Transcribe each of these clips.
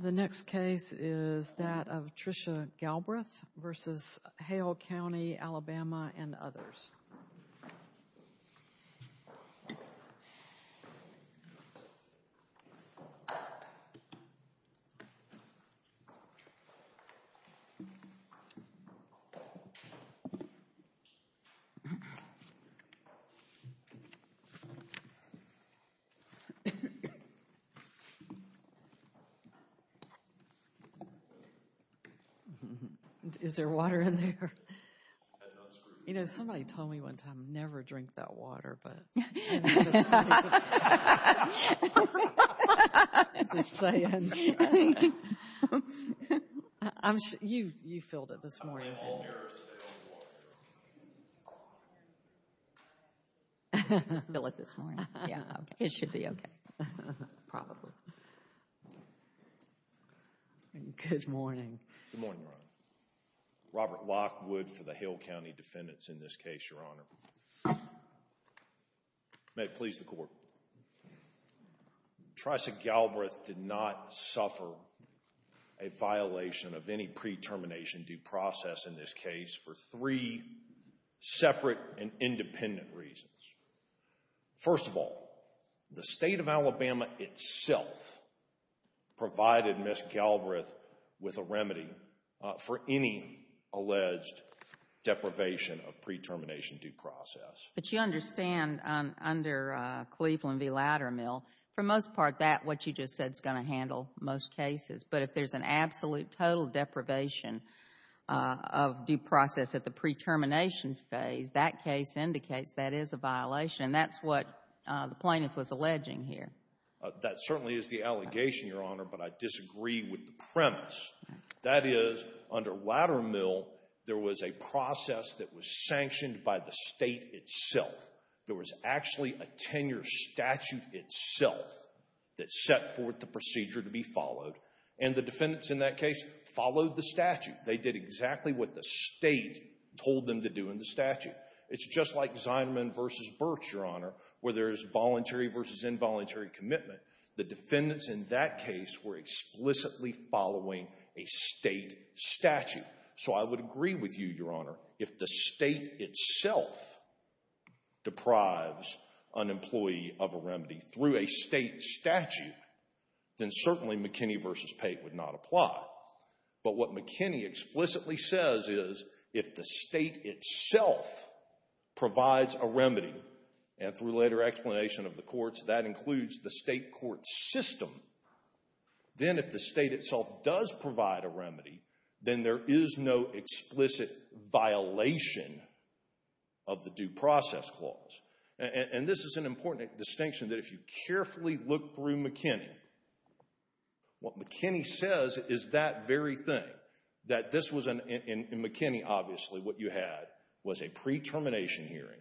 The next case is that of Tricia Galbreath v. Hale County, Alabama and others. Is there water in there? You know, somebody told me one time, never drink that water. I'm just saying. You filled it this morning, didn't you? Fill it this morning. It should be okay. Probably. Good morning. Good morning, Your Honor. Robert Lockwood for the Hale County defendants in this case, Your Honor. May it please the court. Tricia Galbreath did not suffer a violation of any pre-termination due process in this case for three separate and independent reasons. First of all, the state of Alabama itself provided Ms. Galbreath with a remedy for any alleged deprivation of pre-termination due process. But you understand under Cleveland v. Laddermill, for the most part, that what you just said is going to handle most cases. But if there's an absolute total deprivation of due process at the pre-termination phase, that case indicates that is a violation. And that's what the plaintiff was alleging here. That certainly is the allegation, Your Honor, but I disagree with the premise. That is, under Laddermill, there was a process that was sanctioned by the state itself. There was actually a tenure statute itself that set forth the procedure to be followed. And the defendants in that case followed the statute. They did exactly what the state told them to do in the statute. It's just like Zineman v. Birch, Your Honor, where there is voluntary versus involuntary commitment. The defendants in that case were explicitly following a state statute. So I would agree with you, Your Honor, if the state itself deprives an employee of a remedy through a state statute, then certainly McKinney v. Pate would not apply. But what McKinney explicitly says is, if the state itself provides a remedy, and through later explanation of the courts, that includes the state court system, then if the state itself does provide a remedy, then there is no explicit violation of the due process clause. And this is an important distinction, that if you carefully look through McKinney, what McKinney says is that very thing. That this was, in McKinney, obviously, what you had was a pre-termination hearing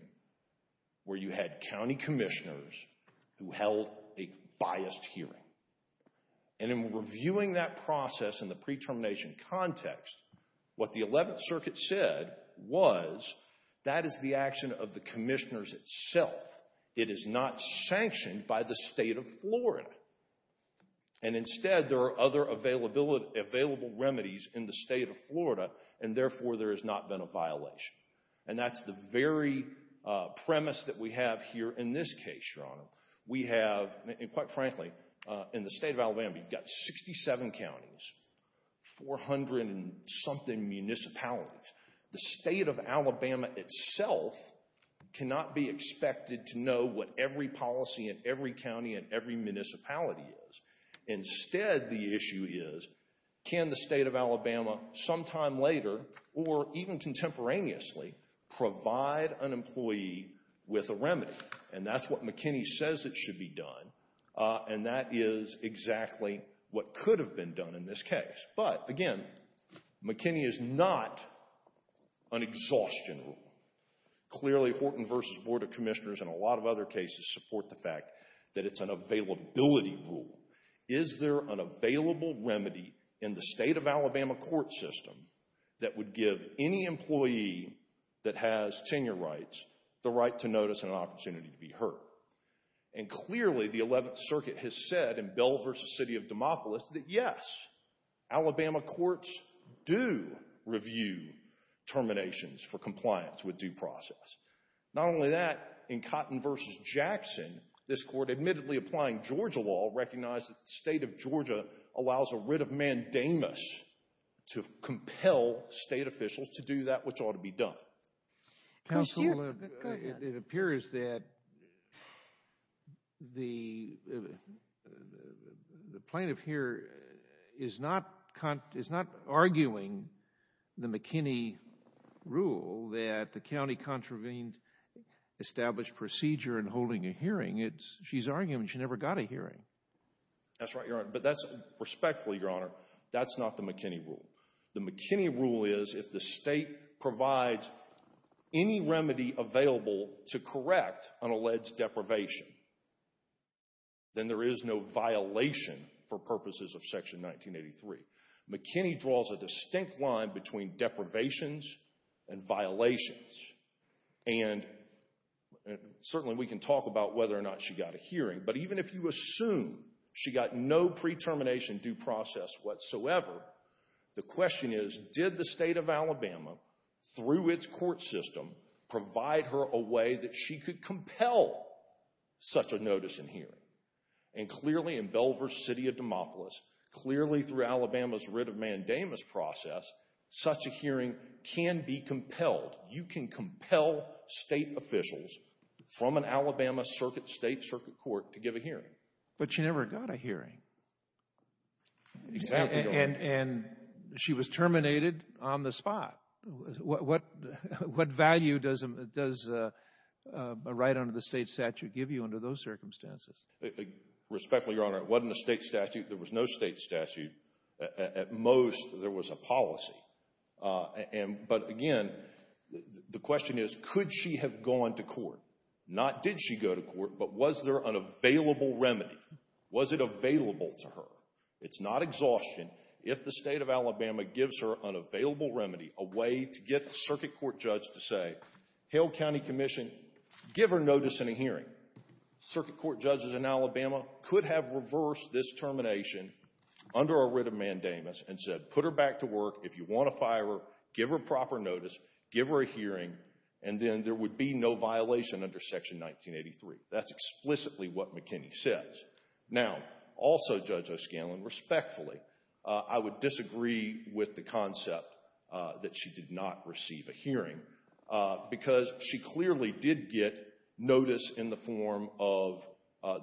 where you had county commissioners who held a biased hearing. And in reviewing that process in the pre-termination context, what the Eleventh Circuit said was, that is the action of the commissioners itself. It is not sanctioned by the state of Florida. And instead, there are other available remedies in the state of Florida, and therefore there has not been a violation. And that's the very premise that we have here in this case, Your Honor. We have, and quite frankly, in the state of Alabama, you've got 67 counties, 400-and-something municipalities. The state of Alabama itself cannot be expected to know what every policy in every county and every municipality is. Instead, the issue is, can the state of Alabama, sometime later, or even contemporaneously, provide an employee with a remedy? And that's what McKinney says it should be done. And that is exactly what could have been done in this case. But, again, McKinney is not an exhaustion rule. Clearly, Horton v. Board of Commissioners and a lot of other cases support the fact that it's an availability rule. Is there an available remedy in the state of Alabama court system that would give any employee that has tenure rights the right to notice and an opportunity to be heard? And clearly, the 11th Circuit has said in Bell v. City of Demopolis that, yes, Alabama courts do review terminations for compliance with due process. Not only that, in Cotton v. Jackson, this court, admittedly applying Georgia law, recognized that the state of Georgia allows a writ of mandamus to compel state officials to do that which ought to be done. Counsel, it appears that the plaintiff here is not arguing the McKinney rule that the county contravened established procedure in holding a hearing. She's arguing she never got a hearing. That's right, Your Honor. But respectfully, Your Honor, that's not the McKinney rule. The McKinney rule is if the state provides any remedy available to correct an alleged deprivation, then there is no violation for purposes of Section 1983. McKinney draws a distinct line between deprivations and violations, and certainly we can talk about whether or not she got a hearing. But even if you assume she got no pre-termination due process whatsoever, the question is, did the state of Alabama, through its court system, provide her a way that she could compel such a notice and hearing? And clearly, in Bell v. City of Demopolis, clearly through Alabama's writ of mandamus process, such a hearing can be compelled. You can compel state officials from an Alabama state circuit court to give a hearing. But she never got a hearing. Exactly, Your Honor. And she was terminated on the spot. What value does a right under the state statute give you under those circumstances? Respectfully, Your Honor, it wasn't a state statute. There was no state statute. At most, there was a policy. But again, the question is, could she have gone to court? Not did she go to court, but was there an available remedy? Was it available to her? It's not exhaustion if the state of Alabama gives her an available remedy, a way to get the circuit court judge to say, Hale County Commission, give her notice and a hearing. Circuit court judges in Alabama could have reversed this termination under a writ of mandamus and said, put her back to work. If you want to fire her, give her proper notice, give her a hearing, and then there would be no violation under Section 1983. That's explicitly what McKinney says. Now, also, Judge O'Scanlan, respectfully, I would disagree with the concept that she did not receive a hearing, because she clearly did get notice in the form of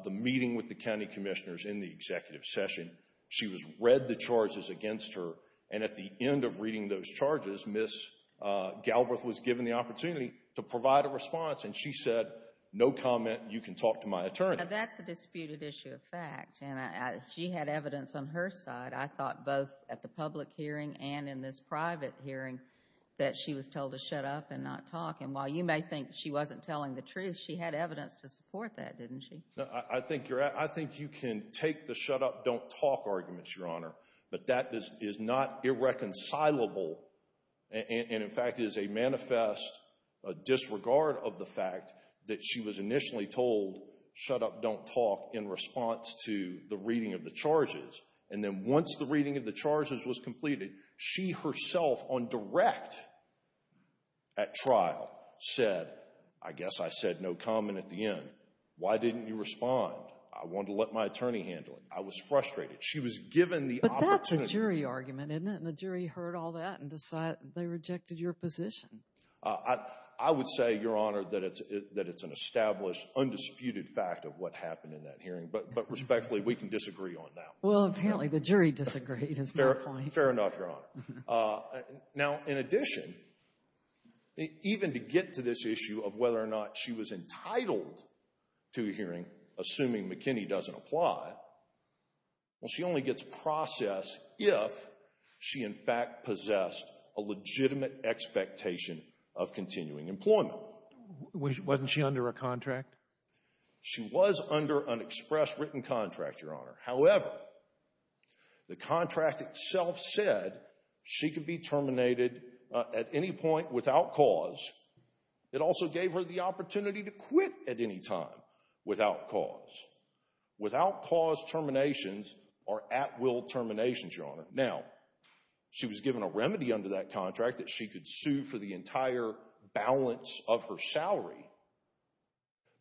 the meeting with the county commissioners in the executive session. She read the charges against her, and at the end of reading those charges, Ms. Galbraith was given the opportunity to provide a response, and she said, No comment. You can talk to my attorney. That's a disputed issue of fact, and she had evidence on her side, I thought, both at the public hearing and in this private hearing, that she was told to shut up and not talk, and while you may think she wasn't telling the truth, she had evidence to support that, didn't she? I think you can take the shut up, don't talk arguments, Your Honor, but that is not irreconcilable, and in fact is a manifest disregard of the fact that she was initially told, shut up, don't talk, in response to the reading of the charges, and then once the reading of the charges was completed, she herself on direct at trial said, I guess I said no comment at the end. Why didn't you respond? I wanted to let my attorney handle it. I was frustrated. She was given the opportunity. But that's a jury argument, isn't it, and the jury heard all that and decided they rejected your position. I would say, Your Honor, that it's an established, undisputed fact of what happened in that hearing, but respectfully, we can disagree on that. Well, apparently the jury disagreed. Fair enough, Your Honor. Now, in addition, even to get to this issue of whether or not she was entitled to a hearing, assuming McKinney doesn't apply, well, she only gets processed if she, in fact, possessed a legitimate expectation of continuing employment. Wasn't she under a contract? She was under an express written contract, Your Honor. However, the contract itself said she could be terminated at any point without cause. It also gave her the opportunity to quit at any time without cause. Without cause terminations are at will terminations, Your Honor. Now, she was given a remedy under that contract that she could sue for the entire balance of her salary.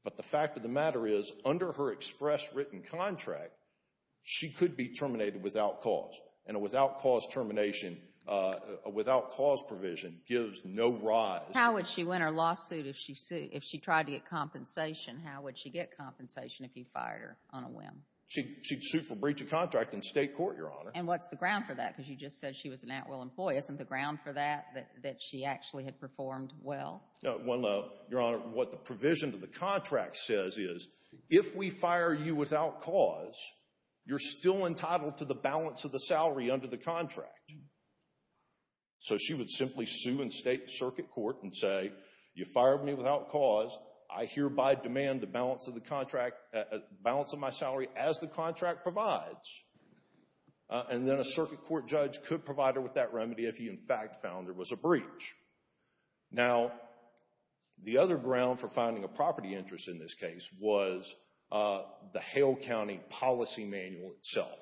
But the fact of the matter is, under her express written contract, she could be terminated without cause, and a without cause termination, a without cause provision gives no rise. How would she win her lawsuit if she tried to get compensation? How would she get compensation if you fired her on a whim? She'd sue for breach of contract in state court, Your Honor. And what's the ground for that? Because you just said she was an at-will employee. Isn't the ground for that that she actually had performed well? Well, Your Honor, what the provision to the contract says is, if we fire you without cause, you're still entitled to the balance of the salary under the contract. So she would simply sue in state circuit court and say, you fired me without cause. I hereby demand the balance of the contract, balance of my salary as the contract provides. And then a circuit court judge could provide her with that remedy if he in fact found there was a breach. Now, the other ground for finding a property interest in this case was the Hale County policy manual itself.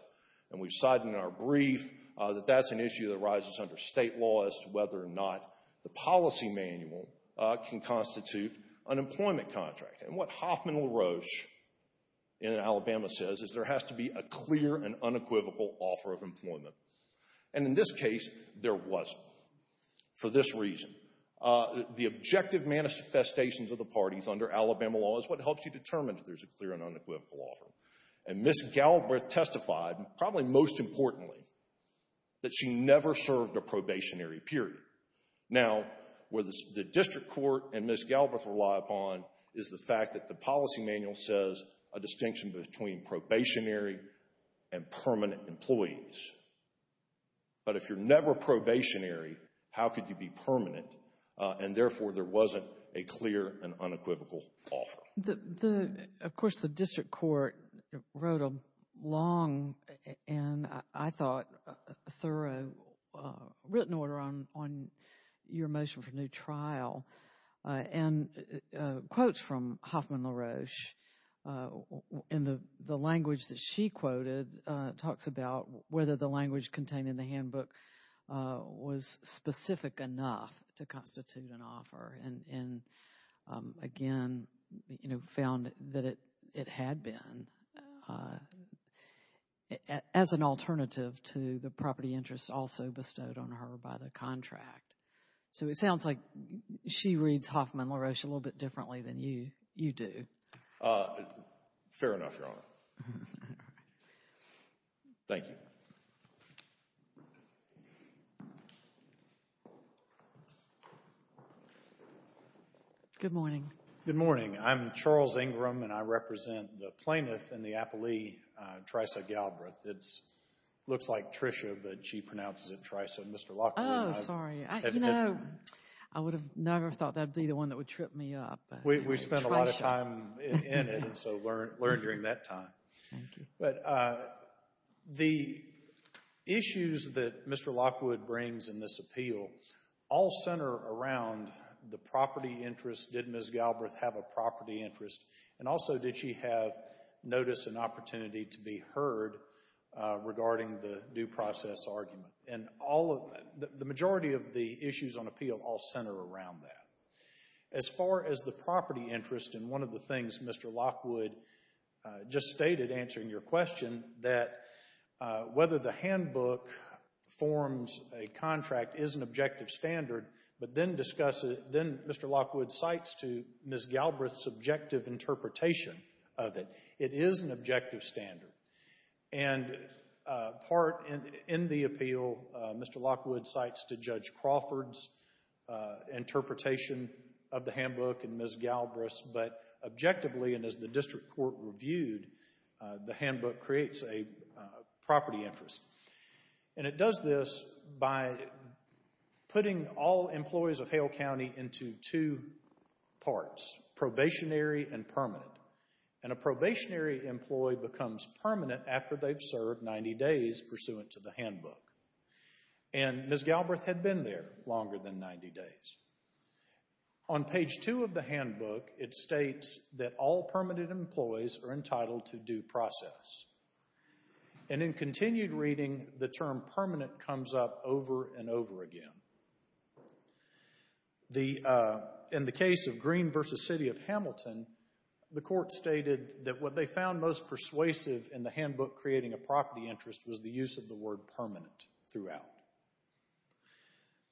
And we've cited in our brief that that's an issue that arises under state law as to whether or not the policy manual can constitute an employment contract. And what Hoffman LaRoche in Alabama says is there has to be a clear and unequivocal offer of employment. And in this case, there wasn't. For this reason, the objective manifestations of the parties under Alabama law is what helps you determine if there's a clear and unequivocal offer. And Ms. Galbraith testified, probably most importantly, that she never served a probationary period. Now, where the district court and Ms. Galbraith rely upon is the fact that the policy manual says a distinction between probationary and permanent employees. But if you're never probationary, how could you be permanent? And therefore, there wasn't a clear and unequivocal offer. Of course, the district court wrote a long and, I thought, thorough written order on your motion for new trial. And quotes from Hoffman LaRoche in the language that she quoted talks about whether the language contained in the handbook was specific enough to constitute an offer. And, again, found that it had been as an alternative to the property interest also bestowed on her by the contract. So it sounds like she reads Hoffman LaRoche a little bit differently than you do. Fair enough, Your Honor. Thank you. Good morning. Good morning. I'm Charles Ingram, and I represent the plaintiff in the appellee, Tricia Galbraith. It looks like Tricia, but she pronounces it Tricia. Oh, sorry. I would have never thought that would be the one that would trip me up. We spent a lot of time in it, so learn during that time. Thank you. But the issues that Mr. Lockwood brings in this appeal all center around the property interest. Did Ms. Galbraith have a property interest? And also, did she have notice and opportunity to be heard regarding the due process argument? And the majority of the issues on appeal all center around that. As far as the property interest, and one of the things Mr. Lockwood just stated answering your question, that whether the handbook forms a contract is an objective standard, but then Mr. Lockwood cites to Ms. Galbraith's subjective interpretation of it, it is an objective standard. And part in the appeal, Mr. Lockwood cites to Judge Crawford's interpretation of the handbook and Ms. Galbraith's, but objectively and as the district court reviewed, the handbook creates a property interest. And it does this by putting all employees of Hale County into two parts, probationary and permanent. And a probationary employee becomes permanent after they've served 90 days pursuant to the handbook. And Ms. Galbraith had been there longer than 90 days. On page two of the handbook, it states that all permanent employees are entitled to due process. And in continued reading, the term permanent comes up over and over again. In the case of Green v. City of Hamilton, the court stated that what they found most persuasive in the handbook creating a property interest was the use of the word permanent throughout.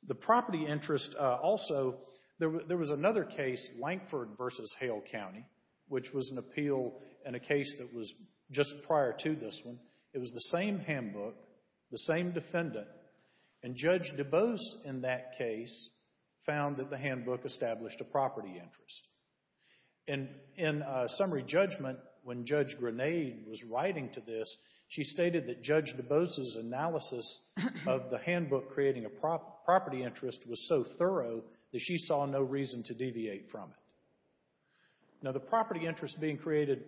The property interest also, there was another case, Lankford v. Hale County, which was an appeal in a case that was just prior to this one. It was the same handbook, the same defendant, and Judge DeBose in that case found that the handbook established a property interest. And in summary judgment, when Judge Grenade was writing to this, she stated that Judge DeBose's analysis of the handbook creating a property interest was so thorough that she saw no reason to deviate from it. Now, the property interest being created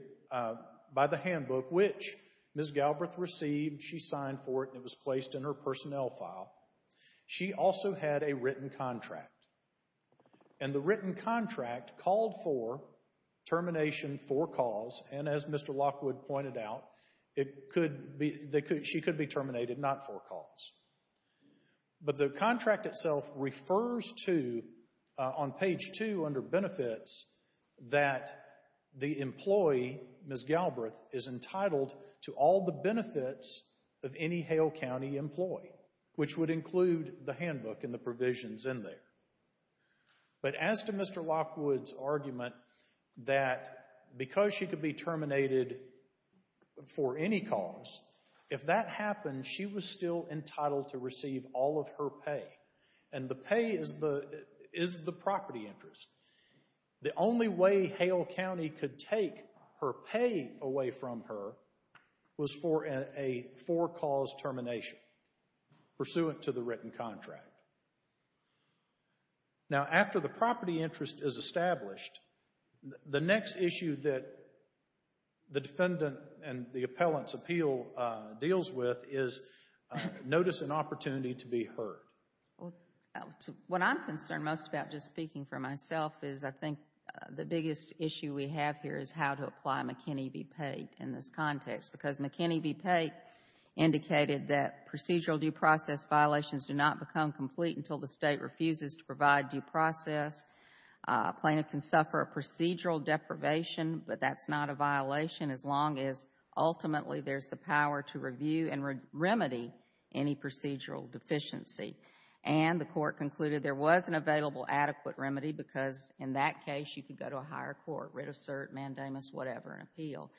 by the handbook, which Ms. Galbraith received, she signed for it, and it was placed in her personnel file, she also had a written contract. And the written contract called for termination for cause, and as Mr. Lockwood pointed out, she could be terminated not for cause. But the contract itself refers to, on page 2 under benefits, that the employee, Ms. Galbraith, is entitled to all the benefits of any Hale County employee, which would include the handbook and the provisions in there. But as to Mr. Lockwood's argument that because she could be terminated for any cause, if that happened, she was still entitled to receive all of her pay. And the pay is the property interest. The only way Hale County could take her pay away from her was for a for-cause termination pursuant to the written contract. Now, after the property interest is established, the next issue that the defendant and the appellant's appeal deals with is notice and opportunity to be heard. What I'm concerned most about, just speaking for myself, is I think the biggest issue we have here is how to apply McKinney v. Pate in this context, because McKinney v. Pate indicated that procedural due process violations do not become complete until the state refuses to provide due process. A plaintiff can suffer a procedural deprivation, but that's not a violation as long as ultimately there's the power to review and remedy any procedural deficiency. And the court concluded there was an available adequate remedy because in that case you could go to a higher court, writ of cert, mandamus, whatever, and appeal.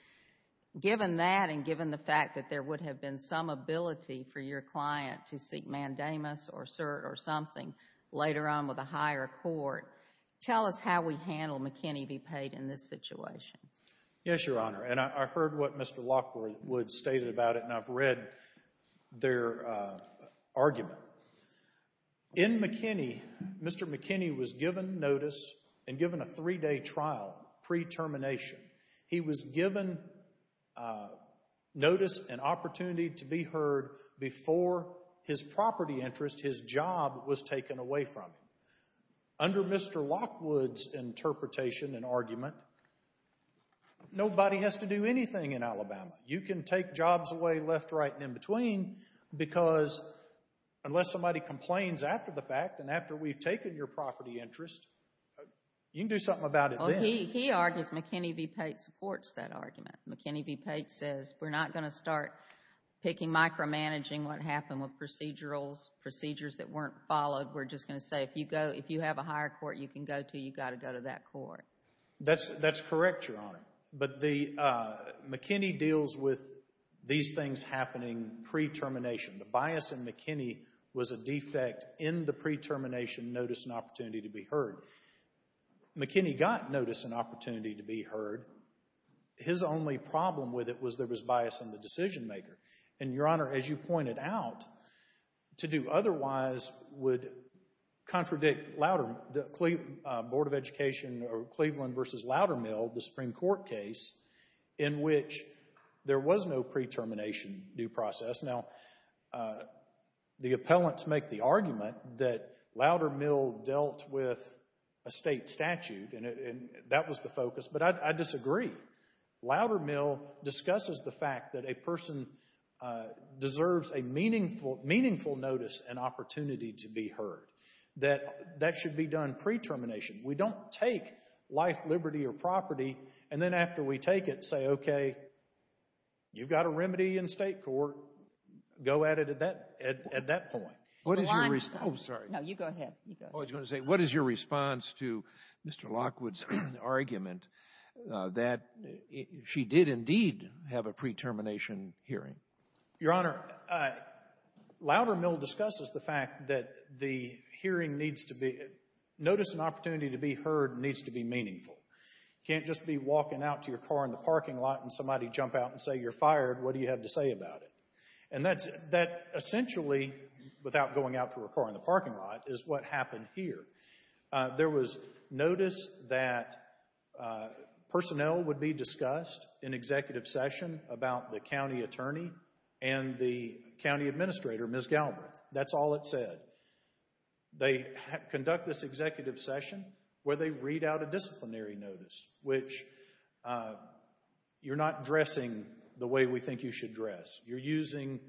Given that and given the fact that there would have been some ability for your client to seek mandamus or cert or something later on with a higher court, tell us how we handle McKinney v. Pate in this situation. Yes, Your Honor, and I heard what Mr. Lockwood stated about it, and I've read their argument. In McKinney, Mr. McKinney was given notice and given a three-day trial pre-termination. He was given notice and opportunity to be heard before his property interest, his job, was taken away from him. Under Mr. Lockwood's interpretation and argument, nobody has to do anything in Alabama. You can take jobs away left, right, and in between because unless somebody complains after the fact and after we've taken your property interest, you can do something about it then. He argues McKinney v. Pate supports that argument. McKinney v. Pate says we're not going to start picking micromanaging what happened with procedurals, procedures that weren't followed. We're just going to say if you have a higher court you can go to, you've got to go to that court. That's correct, Your Honor, but McKinney deals with these things happening pre-termination. The bias in McKinney was a defect in the pre-termination notice and opportunity to be heard. McKinney got notice and opportunity to be heard. His only problem with it was there was bias in the decision-maker. And, Your Honor, as you pointed out, to do otherwise would contradict the Board of Education or Cleveland v. Loudermill, the Supreme Court case, in which there was no pre-termination due process. Now, the appellants make the argument that Loudermill dealt with a state statute and that was the focus, but I disagree. Loudermill discusses the fact that a person deserves a meaningful notice and opportunity to be heard, that that should be done pre-termination. We don't take life, liberty, or property and then after we take it say, okay, you've got a remedy in state court, go at it at that point. Go on. Oh, sorry. No, you go ahead. I was going to say, what is your response to Mr. Lockwood's argument that she did indeed have a pre-termination hearing? Your Honor, Loudermill discusses the fact that the hearing needs to be, notice and opportunity to be heard needs to be meaningful. You can't just be walking out to your car in the parking lot and somebody jump out and say, you're fired, what do you have to say about it? And that essentially, without going out to a car in the parking lot, is what happened here. There was notice that personnel would be discussed in executive session about the county attorney and the county administrator, Ms. Galbraith. That's all it said. They conduct this executive session where they read out a disciplinary notice, which you're not dressing the way we think you should dress. You're using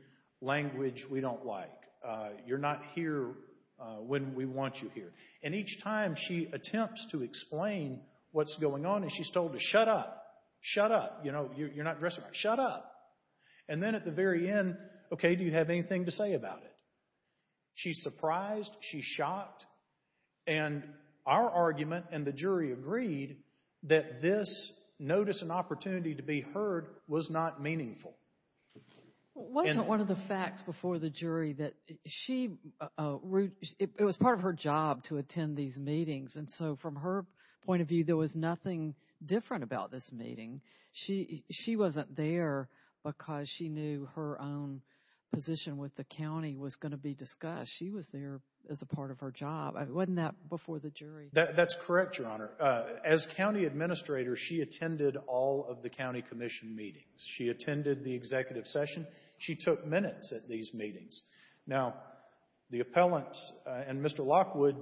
language we don't like. You're not here when we want you here. And each time she attempts to explain what's going on and she's told to shut up. Shut up. You know, you're not dressing right. Shut up. And then at the very end, okay, do you have anything to say about it? She's surprised. She's shocked. And our argument and the jury agreed that this notice and opportunity to be heard was not meaningful. Wasn't one of the facts before the jury that she, it was part of her job to attend these meetings, and so from her point of view, there was nothing different about this meeting. She wasn't there because she knew her own position with the county was going to be discussed. She was there as a part of her job. Wasn't that before the jury? That's correct, Your Honor. As county administrator, she attended all of the county commission meetings. She attended the executive session. She took minutes at these meetings. Now, the appellants and Mr. Lockwood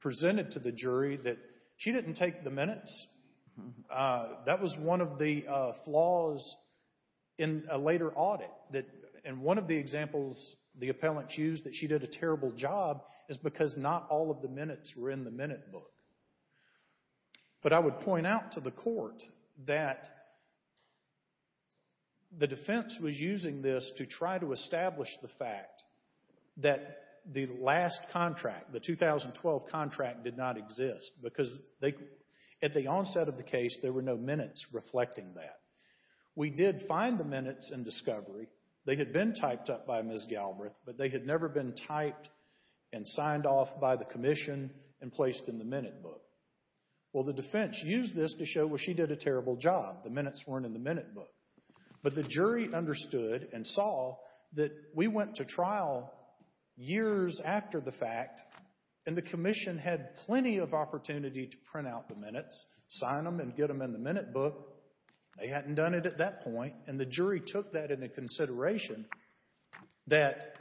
presented to the jury that she didn't take the minutes. That was one of the flaws in a later audit, and one of the examples the appellants used, that she did a terrible job, is because not all of the minutes were in the minute book. But I would point out to the court that the defense was using this to try to establish the fact that the last contract, the 2012 contract, did not exist because at the onset of the case, there were no minutes reflecting that. We did find the minutes in discovery. They had been typed up by Ms. Galbraith, but they had never been typed and signed off by the commission and placed in the minute book. Well, the defense used this to show, well, she did a terrible job. The minutes weren't in the minute book. But the jury understood and saw that we went to trial years after the fact, and the commission had plenty of opportunity to print out the minutes, sign them, and get them in the minute book. They hadn't done it at that point, and the jury took that into consideration that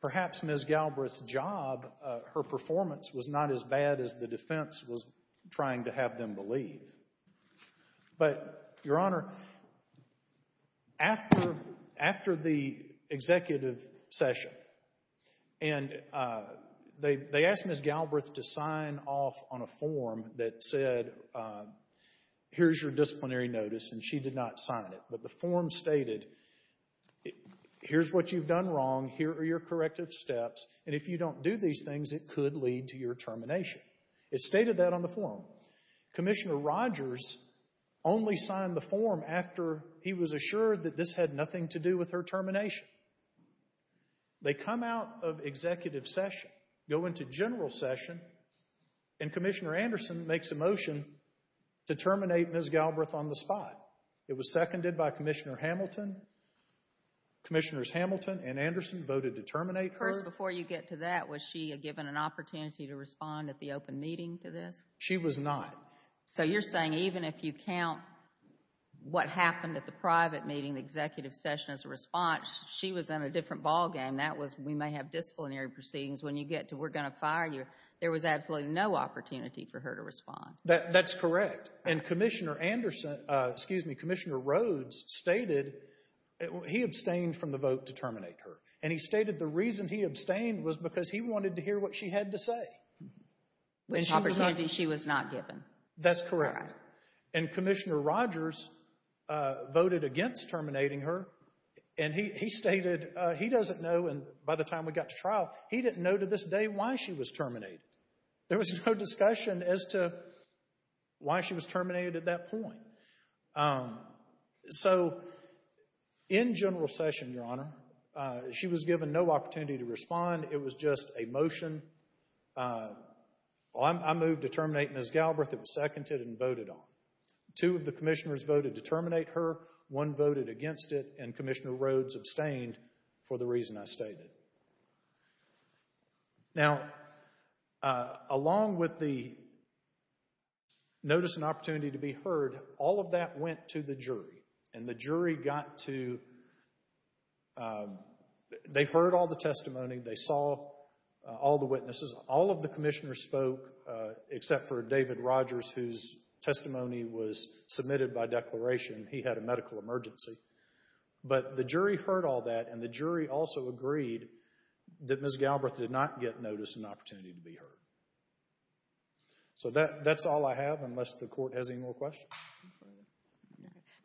perhaps Ms. Galbraith's job, her performance, was not as bad as the defense was trying to have them believe. But, Your Honor, after the executive session, and they asked Ms. Galbraith to sign off on a form that said, here's your disciplinary notice, and she did not sign it. But the form stated, here's what you've done wrong. Here are your corrective steps, and if you don't do these things, it could lead to your termination. It stated that on the form. Commissioner Rogers only signed the form after he was assured that this had nothing to do with her termination. They come out of executive session, go into general session, and Commissioner Anderson makes a motion to terminate Ms. Galbraith on the spot. It was seconded by Commissioners Hamilton, and Anderson voted to terminate her. First, before you get to that, was she given an opportunity to respond at the open meeting to this? She was not. So you're saying even if you count what happened at the private meeting, the executive session as a response, she was in a different ballgame. That was we may have disciplinary proceedings. When you get to we're going to fire you, there was absolutely no opportunity for her to respond. That's correct. And Commissioner Anderson, excuse me, Commissioner Rhodes stated he abstained from the vote to terminate her, and he stated the reason he abstained was because he wanted to hear what she had to say. Which opportunity she was not given. That's correct. And Commissioner Rogers voted against terminating her, and he stated he doesn't know, and by the time we got to trial, he didn't know to this day why she was terminated. There was no discussion as to why she was terminated at that point. So in general session, Your Honor, she was given no opportunity to respond. It was just a motion. I moved to terminate Ms. Galbraith. It was seconded and voted on. Two of the commissioners voted to terminate her. One voted against it, and Commissioner Rhodes abstained for the reason I stated. Now, along with the notice and opportunity to be heard, all of that went to the jury, and the jury got to they heard all the testimony. They saw all the witnesses. All of the commissioners spoke except for David Rogers, whose testimony was submitted by declaration. He had a medical emergency. But the jury heard all that, and the jury also agreed that Ms. Galbraith did not get notice and opportunity to be heard. So that's all I have, unless the Court has any more questions.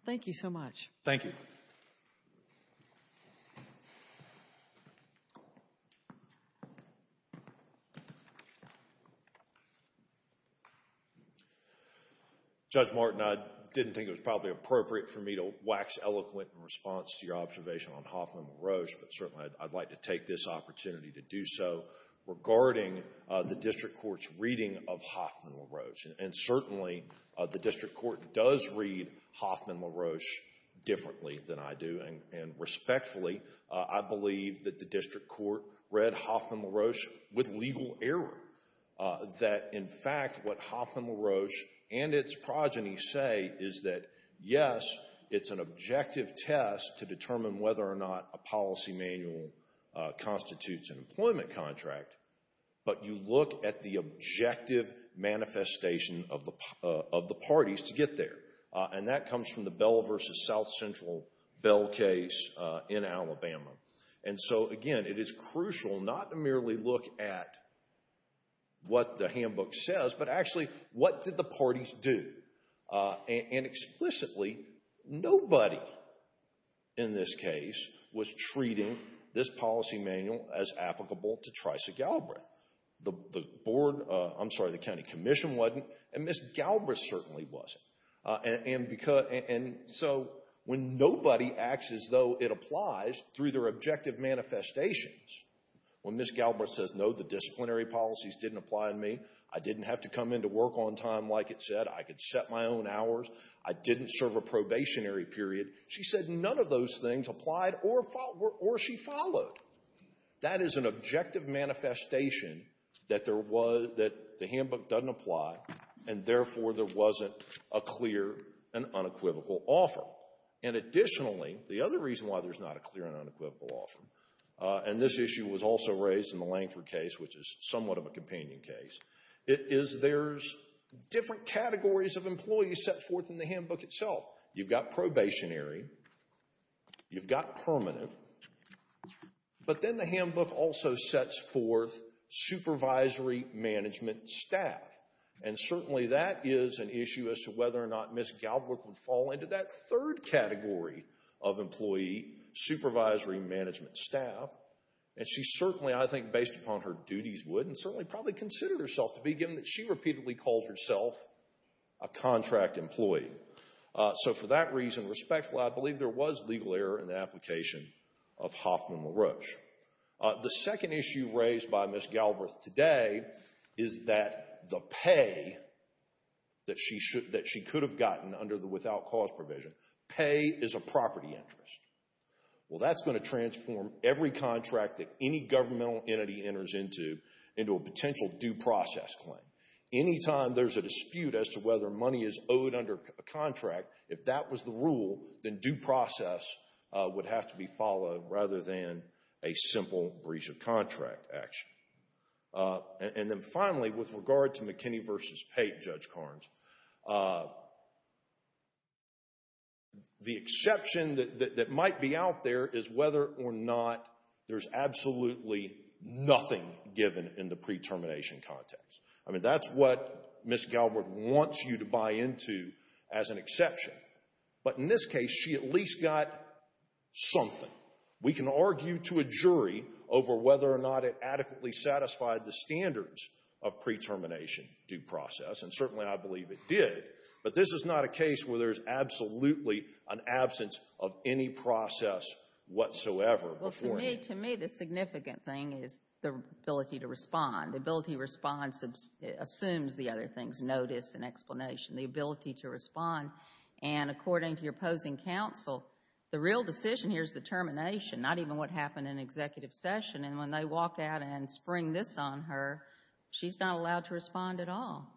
Thank you so much. Thank you. Judge Martin, I didn't think it was probably appropriate for me to wax eloquent in response to your observation on Hoffman-LaRoche, but certainly I'd like to take this opportunity to do so regarding the district court's reading of Hoffman-LaRoche. And certainly the district court does read Hoffman-LaRoche differently than I do, and respectfully, I believe that the district court read Hoffman-LaRoche with legal error. That, in fact, what Hoffman-LaRoche and its progeny say is that, yes, it's an objective test to determine whether or not a policy manual constitutes an employment contract, but you look at the objective manifestation of the parties to get there. And that comes from the Bell v. South Central Bell case in Alabama. And so, again, it is crucial not to merely look at what the handbook says, but actually, what did the parties do? And explicitly, nobody in this case was treating this policy manual as applicable to Tricia Galbraith. The board, I'm sorry, the county commission wasn't, and Ms. Galbraith certainly wasn't. And so when nobody acts as though it applies through their objective manifestations, when Ms. Galbraith says, no, the disciplinary policies didn't apply to me, I didn't have to come in to work on time, like it said, I could set my own hours, I didn't serve a probationary period, she said none of those things applied or she followed. That is an objective manifestation that there was, that the handbook doesn't apply, and therefore there wasn't a clear and unequivocal offer. And additionally, the other reason why there's not a clear and unequivocal offer, and this issue was also raised in the Langford case, which is somewhat of a companion case, is there's different categories of employees set forth in the handbook itself. You've got probationary, you've got permanent, but then the handbook also sets forth supervisory management staff. And certainly that is an issue as to whether or not Ms. Galbraith would fall into that third category of employee, supervisory management staff. And she certainly, I think, based upon her duties would, and certainly probably considered herself to be, a contract employee. So for that reason, respectfully, I believe there was legal error in the application of Hoffman-LaRoche. The second issue raised by Ms. Galbraith today is that the pay that she could have gotten under the without cause provision, pay is a property interest. Well, that's going to transform every contract that any governmental entity enters into into a potential due process claim. Anytime there's a dispute as to whether money is owed under a contract, if that was the rule, then due process would have to be followed rather than a simple breach of contract action. And then finally, with regard to McKinney v. Pate, Judge Carnes, the exception that might be out there is whether or not there's absolutely nothing given in the pre-termination context. I mean, that's what Ms. Galbraith wants you to buy into as an exception. But in this case, she at least got something. We can argue to a jury over whether or not it adequately satisfied the standards of pre-termination due process, and certainly I believe it did. But this is not a case where there's absolutely an absence of any process whatsoever. Well, to me the significant thing is the ability to respond. The ability to respond assumes the other things, notice and explanation, the ability to respond. And according to your opposing counsel, the real decision here is the termination, not even what happened in executive session. And when they walk out and spring this on her, she's not allowed to respond at all.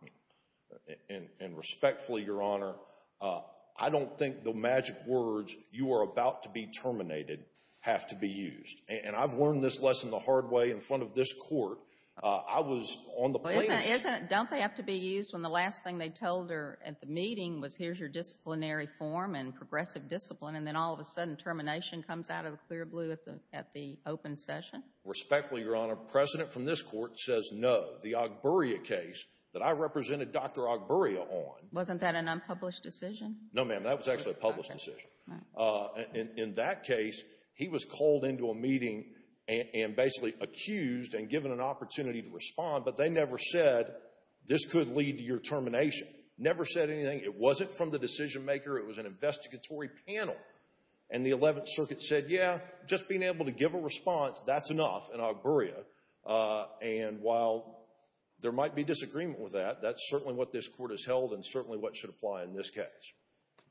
And respectfully, Your Honor, I don't think the magic words, you are about to be terminated, have to be used. And I've learned this lesson the hard way in front of this court. I was on the plaintiffs. Don't they have to be used when the last thing they told her at the meeting was, here's your disciplinary form and progressive discipline, and then all of a sudden termination comes out of the clear blue at the open session? Respectfully, Your Honor, the president from this court says no. The Ogburria case that I represented Dr. Ogburria on Wasn't that an unpublished decision? No, ma'am, that was actually a published decision. In that case, he was called into a meeting and basically accused and given an opportunity to respond, but they never said this could lead to your termination. Never said anything. It wasn't from the decision maker. It was an investigatory panel. And the Eleventh Circuit said, yeah, just being able to give a response, that's enough in Ogburria. And while there might be disagreement with that, that's certainly what this court has held and certainly what should apply in this case. Thank you.